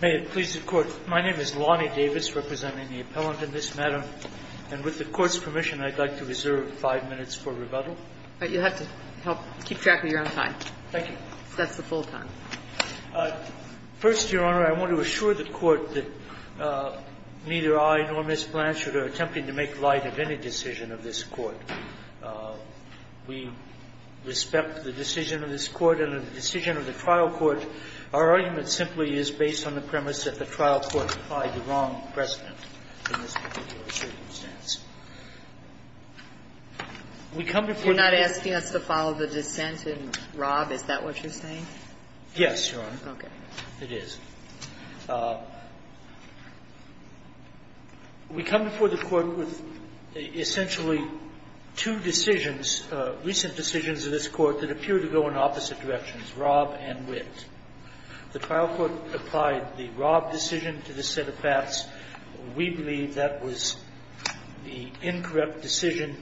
May it please the Court. My name is Lonnie Davis, representing the appellant in this matter, and with the Court's permission, I'd like to reserve five minutes for rebuttal. You'll have to help keep track of your own time. Thank you. That's the full time. First, Your Honor, I want to assure the Court that neither I nor Ms. Blanchard are attempting to make light of any decision of this Court. We respect the decision of this Court and the decision of the trial court. Our argument simply is based on the premise that the trial court applied the wrong precedent in this particular circumstance. We come before the Court You're not asking us to follow the dissent in Rob. Is that what you're saying? Yes, Your Honor. Okay. It is. We come before the Court with essentially two decisions, recent decisions of this Court that appear to go in opposite directions, Rob and Witt. The trial court applied the Rob decision to this set of facts. We believe that was the incorrect decision.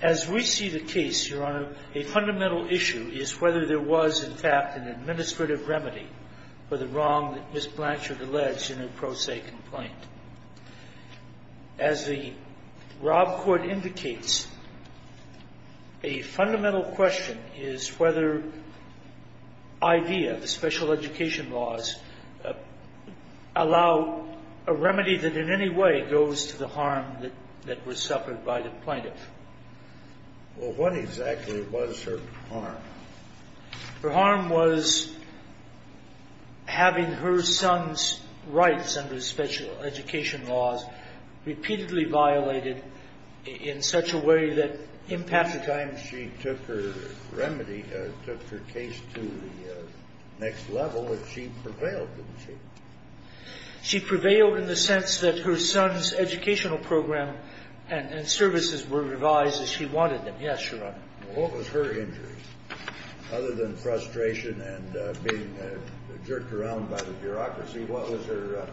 As we see the case, Your Honor, a fundamental issue is whether there was, in fact, an administrative remedy for the wrong that Ms. Blanchard alleged in her pro se complaint. As the Rob court indicates, a fundamental question is whether IDEA, the special education laws, allow a remedy that in any way goes to the harm that was suffered by the plaintiff. Well, what exactly was her harm? Her harm was having her son's rights under special education laws repeatedly violated in such a way that impact the time she took her remedy, took her case to the next level, that she prevailed, didn't she? She prevailed in the sense that her son's educational program and services were revised as she wanted them. Yes, Your Honor. Well, what was her injury? Other than frustration and being jerked around by the bureaucracy, what was her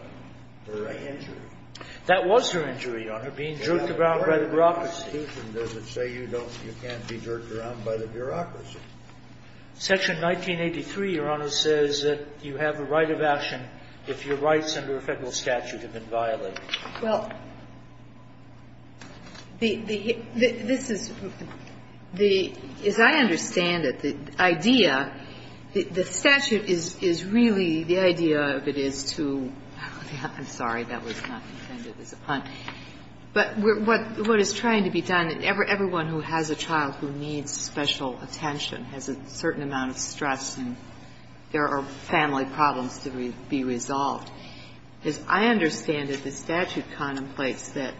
injury? That was her injury, Your Honor, being jerked around by the bureaucracy. Where in the Constitution does it say you can't be jerked around by the bureaucracy? Section 1983, Your Honor, says that you have a right of action if your rights under a Federal statute have been violated. Well, this is the – as I understand it, the IDEA, the statute is really the idea of it is to – I'm sorry, that was not intended as a pun. But what is trying to be done, everyone who has a child who needs special attention has a certain amount of stress and there are family problems to be resolved. As I understand it, the statute contemplates that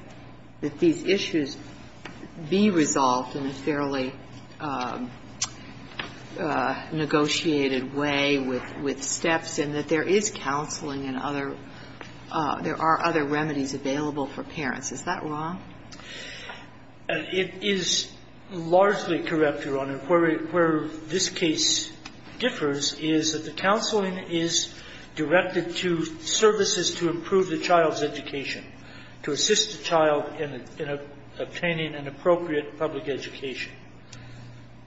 these issues be resolved in a fairly negotiated way with steps and that there is counseling and other – there are other remedies available for parents. Is that wrong? It is largely correct, Your Honor. Where this case differs is that the counseling is directed to services to improve the child's education, to assist the child in obtaining an appropriate public education.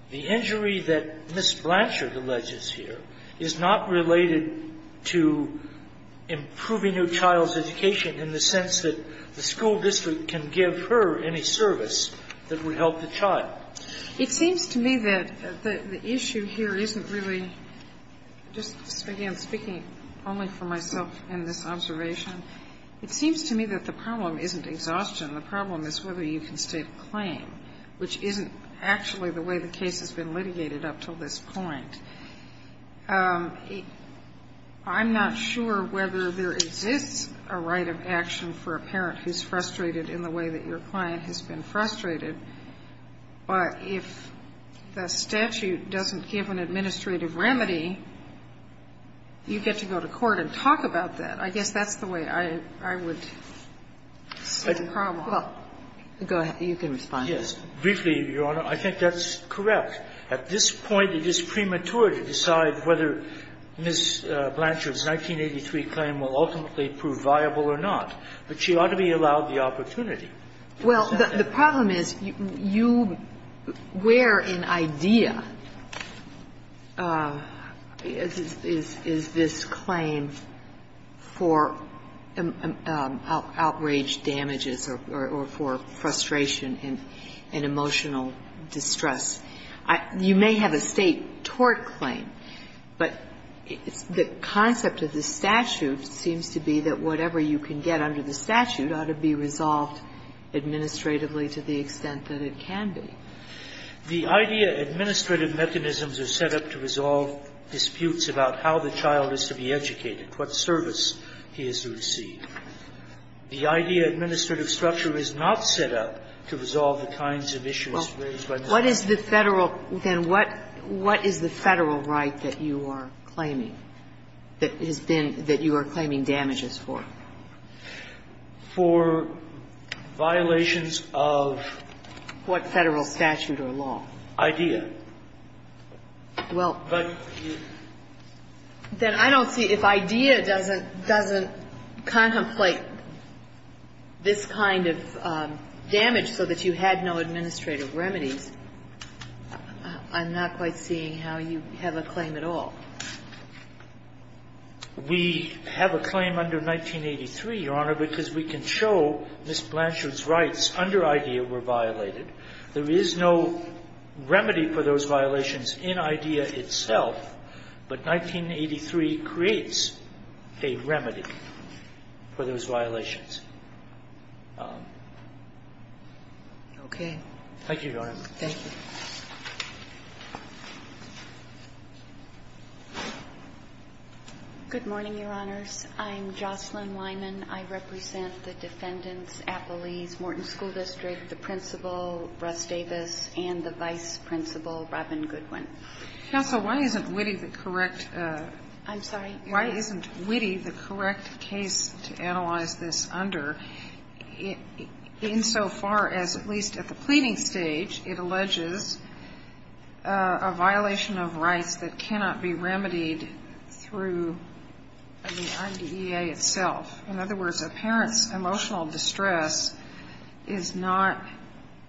The injury that Ms. Blanchard alleges here is not related to improving your child's education in the sense that the school district can give her any service that would help the child. It seems to me that the issue here isn't really – just, again, speaking only for myself in this observation. It seems to me that the problem isn't exhaustion. The problem is whether you can state a claim, which isn't actually the way the case has been litigated up until this point. I'm not sure whether there exists a right of action for a parent who's frustrated in the way that your client has been frustrated, but if the statute doesn't give an administrative remedy, you get to go to court and talk about that. I guess that's the way I would see the problem. Well, go ahead. You can respond. Yes. Briefly, Your Honor, I think that's correct. At this point, it is premature to decide whether Ms. Blanchard's 1983 claim will ultimately prove viable or not, but she ought to be allowed the opportunity. Well, the problem is you – where in idea is this claim for outraged damages or for frustration and emotional distress? You may have a State tort claim, but the concept of the statute seems to be that whatever you can get under the statute ought to be resolved administratively to the extent that it can be. The idea administrative mechanisms are set up to resolve disputes about how the child is to be educated, what service he is to receive. The idea administrative structure is not set up to resolve the kinds of issues raised by the statute. Well, what is the Federal – then what is the Federal right that you are claiming that has been – that you are claiming damages for? For violations of what? Federal statute or law. Idea. Well. Then I don't see – if idea doesn't – doesn't contemplate this kind of damage so that you had no administrative remedies, I'm not quite seeing how you have a claim at all. We have a claim under 1983, Your Honor, because we can show Ms. Blanchard's rights under idea were violated. There is no remedy for those violations in idea itself, but 1983 creates a remedy for those violations. Thank you, Your Honor. Thank you. Good morning, Your Honors. I'm Jocelyn Weinman. I represent the Defendants, Appellees, Morton School District, the Principal, Russ Davis, and the Vice Principal, Robin Goodwin. Counsel, why isn't Witte the correct – I'm sorry? Why isn't Witte the correct case to analyze this under insofar as, at least at the pleading stage, it alleges a violation of rights that cannot be remedied through the IDEA itself? In other words, a parent's emotional distress is not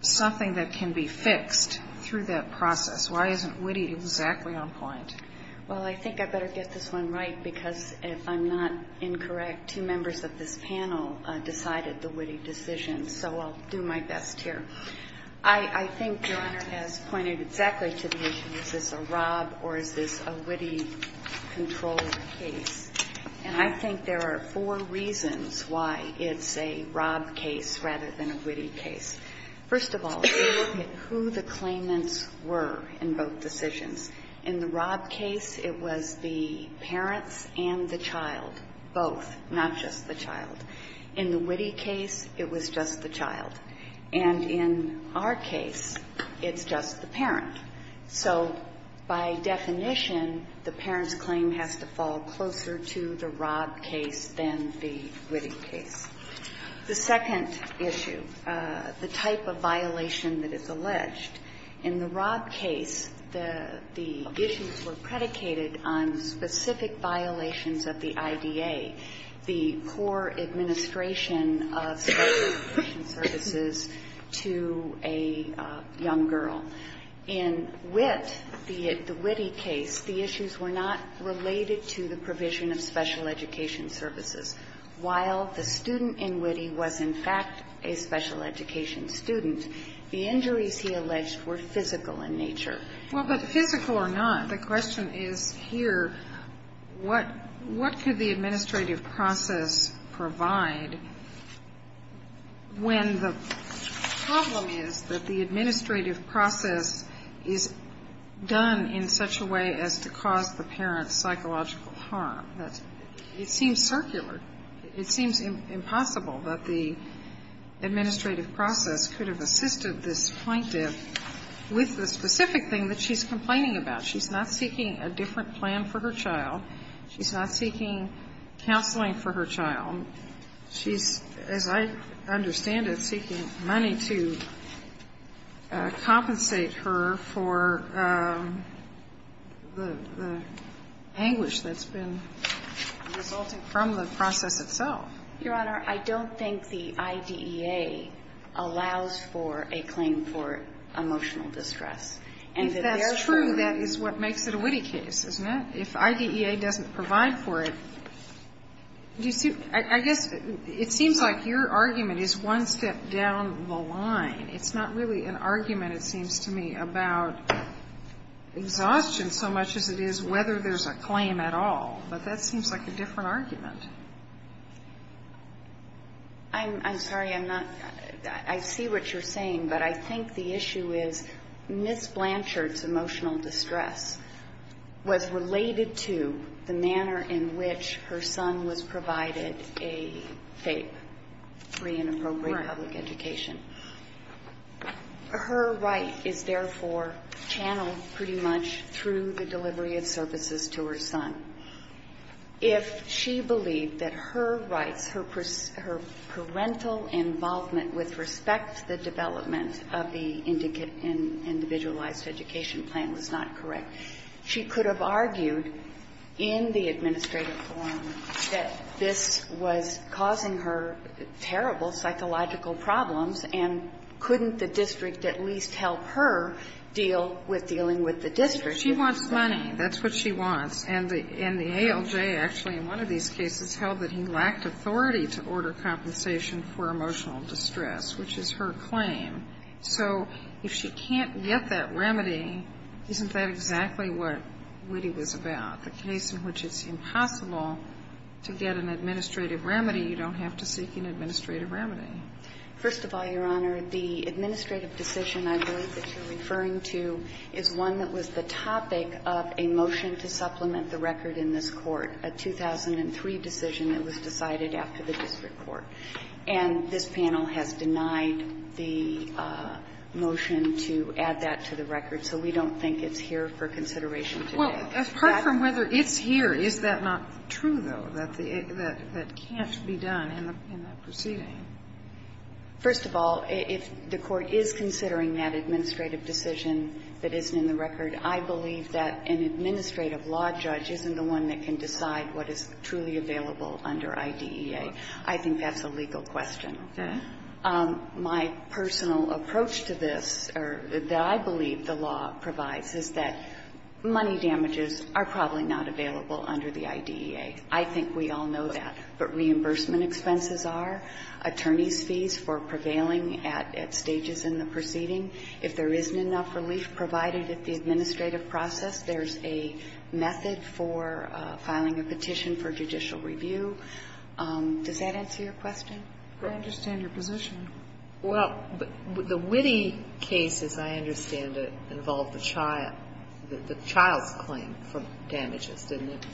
something that can be fixed through that process. Why isn't Witte exactly on point? Well, I think I better get this one right, because if I'm not incorrect, two members of this panel decided the Witte decision, so I'll do my best here. I think Your Honor has pointed exactly to the issue. Is this a Rob or is this a Witte controlled case? And I think there are four reasons why it's a Rob case rather than a Witte case. First of all, look at who the claimants were in both decisions. In the Rob case, it was the parents and the child, both, not just the child. In the Witte case, it was just the child. And in our case, it's just the parent. So by definition, the parent's claim has to fall closer to the Rob case than the Witte case. The second issue, the type of violation that is alleged. In the Rob case, the issues were predicated on specific violations of the IDEA, the core administration of special education services to a young girl. In Witte, the Witte case, the issues were not related to the provision of special education services. While the student in Witte was, in fact, a special education student, the injuries he alleged were physical in nature. Well, but physical or not, the question is here, what could the administrative process provide when the problem is that the administrative process is done in such a way as to cause the parent psychological harm? It seems circular. It seems impossible that the administrative process could have assisted this thing that she's complaining about. She's not seeking a different plan for her child. She's not seeking counseling for her child. She's, as I understand it, seeking money to compensate her for the anguish that's been resulting from the process itself. Your Honor, I don't think the IDEA allows for a claim for emotional distress. If that's true, that is what makes it a Witte case, isn't it? If IDEA doesn't provide for it, I guess it seems like your argument is one step down the line. It's not really an argument, it seems to me, about exhaustion so much as it is whether there's a claim at all. But that seems like a different argument. I'm sorry, I'm not – I see what you're saying, but I think the issue is Ms. Blanchard's emotional distress was related to the manner in which her son was provided a FAPE, free and appropriate public education. Right. Her right is therefore channeled pretty much through the delivery of services to her son. If she believed that her rights, her parental involvement with respect to the development of the individualized education plan was not correct, she could have argued in the administrative forum that this was causing her terrible psychological problems and couldn't the district at least help her deal with dealing with the district. She wants money. That's what she wants. And the ALJ actually in one of these cases held that he lacked authority to order compensation for emotional distress, which is her claim. So if she can't get that remedy, isn't that exactly what Witte was about, the case in which it's impossible to get an administrative remedy, you don't have to seek an administrative remedy? First of all, Your Honor, the administrative decision I believe that you're referring to is one that was the topic of a motion to supplement the record in this Court, a 2003 decision that was decided after the district court. And this panel has denied the motion to add that to the record. So we don't think it's here for consideration today. Well, apart from whether it's here, is that not true, though, that can't be done in the proceeding? First of all, if the Court is considering that administrative decision that isn't in the record, I believe that an administrative law judge isn't the one that can decide what is truly available under IDEA. I think that's a legal question. Okay. My personal approach to this, or that I believe the law provides, is that money damages are probably not available under the IDEA. I think we all know that. But reimbursement expenses are. Attorney's fees for prevailing at stages in the proceeding. If there isn't enough relief provided at the administrative process, there's a method for filing a petition for judicial review. Does that answer your question? I understand your position. Well, the Witte case, as I understand it, involved the child's claim for damages, didn't it?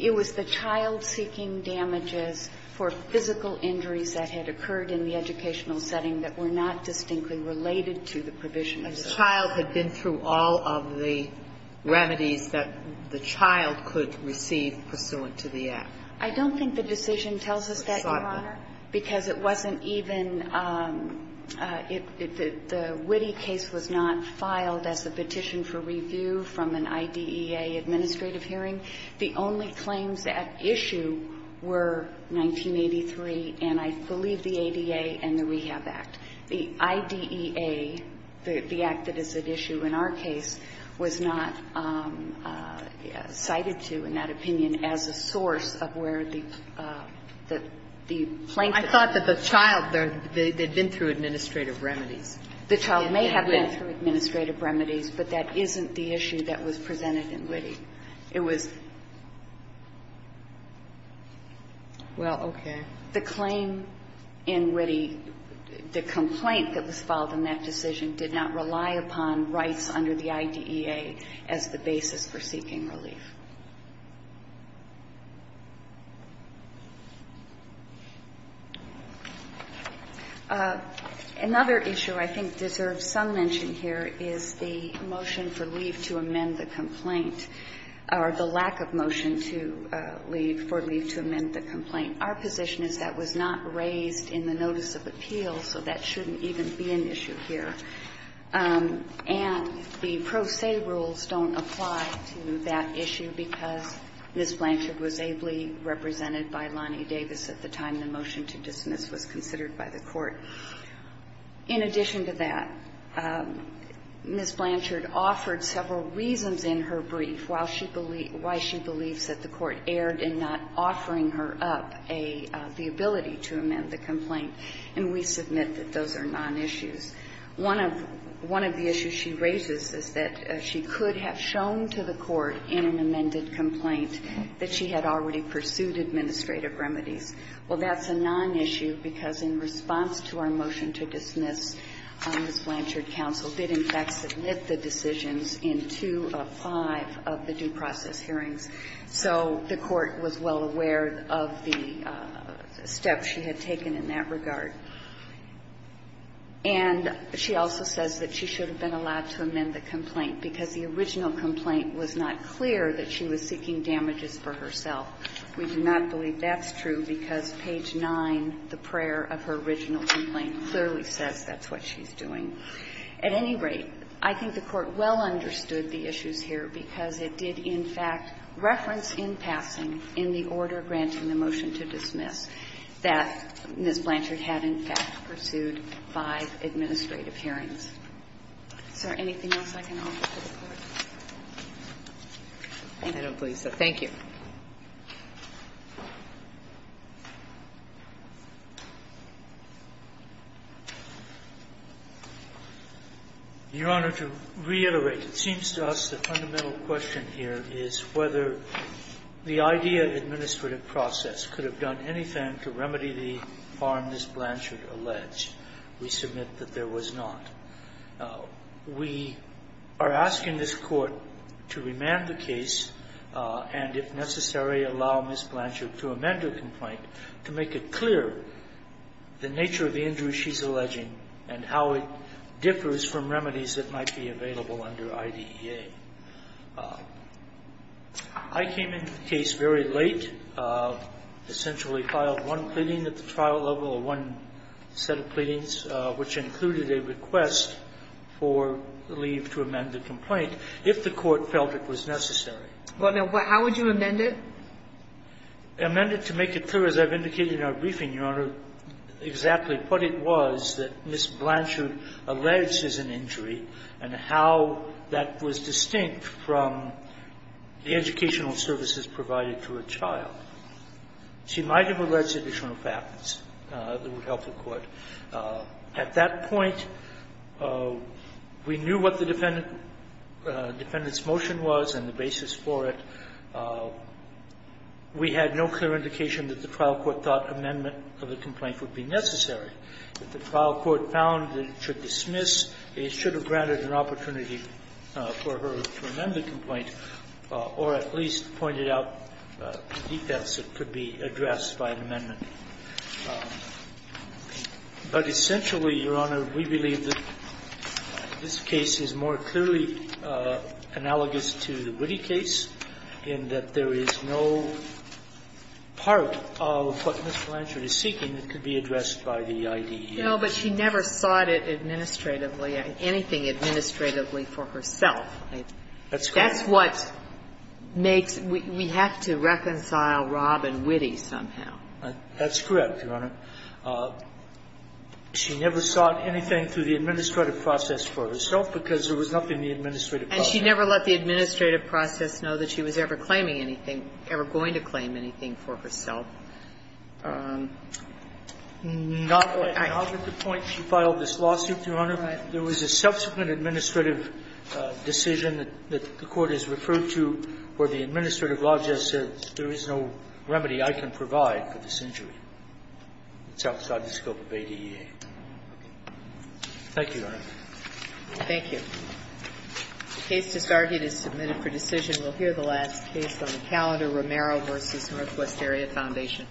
It was the child seeking damages for physical injuries that had occurred in the educational setting that were not distinctly related to the provision. A child had been through all of the remedies that the child could receive pursuant to the act. I don't think the decision tells us that, Your Honor, because it wasn't even the Witte case was not filed as a petition for review from an IDEA administrative hearing. The only claims at issue were 1983 and, I believe, the ADA and the Rehab Act. The IDEA, the act that is at issue in our case, was not cited to, in that opinion, as a source of where the plaintiff's claim was. I thought that the child, they had been through administrative remedies. The child may have been through administrative remedies, but that isn't the issue that was presented in Witte. It was the claim in Witte, the complaint that was filed in that decision did not rely upon rights under the IDEA as the basis for seeking relief. Another issue I think deserves some mention here is the motion for leave to amend the complaint, or the lack of motion to leave, for leave to amend the complaint. Our position is that was not raised in the notice of appeal, so that shouldn't even be an issue here. And the pro se rules don't apply to that issue. And that's an issue because Ms. Blanchard was ably represented by Lonnie Davis at the time the motion to dismiss was considered by the Court. In addition to that, Ms. Blanchard offered several reasons in her brief why she believes that the Court erred in not offering her up the ability to amend the complaint, and we submit that those are non-issues. One of the issues she raises is that she could have shown to the Court in an amended complaint that she had already pursued administrative remedies. Well, that's a non-issue because in response to our motion to dismiss, Ms. Blanchard counsel did in fact submit the decisions in two of five of the due process hearings. So the Court was well aware of the steps she had taken in that regard. And she also says that she should have been allowed to amend the complaint because the original complaint was not clear that she was seeking damages for herself. We do not believe that's true because page 9, the prayer of her original complaint, clearly says that's what she's doing. At any rate, I think the Court well understood the issues here because it did in fact reference in passing, in the order granting the motion to dismiss, that Ms. Blanchard had in fact pursued five administrative hearings. Is there anything else I can offer to the Court? I don't believe so. Thank you. Your Honor, to reiterate, it seems to us the fundamental question here is whether the idea of administrative process could have done anything to remedy the harm Ms. Blanchard alleged. We submit that there was not. We are asking this Court to remand the case and, if necessary, to re-examine the case. And if necessary, allow Ms. Blanchard to amend her complaint to make it clear the nature of the injury she's alleging and how it differs from remedies that might be available under IDEA. I came into the case very late, essentially filed one pleading at the trial level or one set of pleadings, which included a request for leave to amend the complaint if the Court felt it was necessary. Well, now, how would you amend it? Amend it to make it clear, as I've indicated in our briefing, Your Honor, exactly what it was that Ms. Blanchard alleged as an injury and how that was distinct from the educational services provided to a child. She might have alleged additional factors that would help the Court. At that point, we knew what the defendant's motion was and the basis for it. We had no clear indication that the trial court thought amendment of the complaint would be necessary. If the trial court found that it should dismiss, it should have granted an opportunity for her to amend the complaint or at least pointed out the defense that could be addressed by an amendment. But essentially, Your Honor, we believe that this case is more clearly analogous to the Witte case in that there is no part of what Ms. Blanchard is seeking that could be addressed by the IDEA. No, but she never sought it administratively, anything administratively for herself. That's what makes we have to reconcile Robb and Witte somehow. That's correct, Your Honor. She never sought anything through the administrative process for herself because there was nothing the administrative process could do. And she never let the administrative process know that she was ever claiming anything, ever going to claim anything for herself. Not at the point she filed this lawsuit, Your Honor. There was a subsequent administrative decision that the Court has referred to where the administrative law just says there is no remedy I can provide for this injury. It's outside the scope of ADEA. Thank you, Your Honor. Thank you. The case discarded is submitted for decision. We'll hear the last case on the calendar, Romero v. Northwest Area Foundation.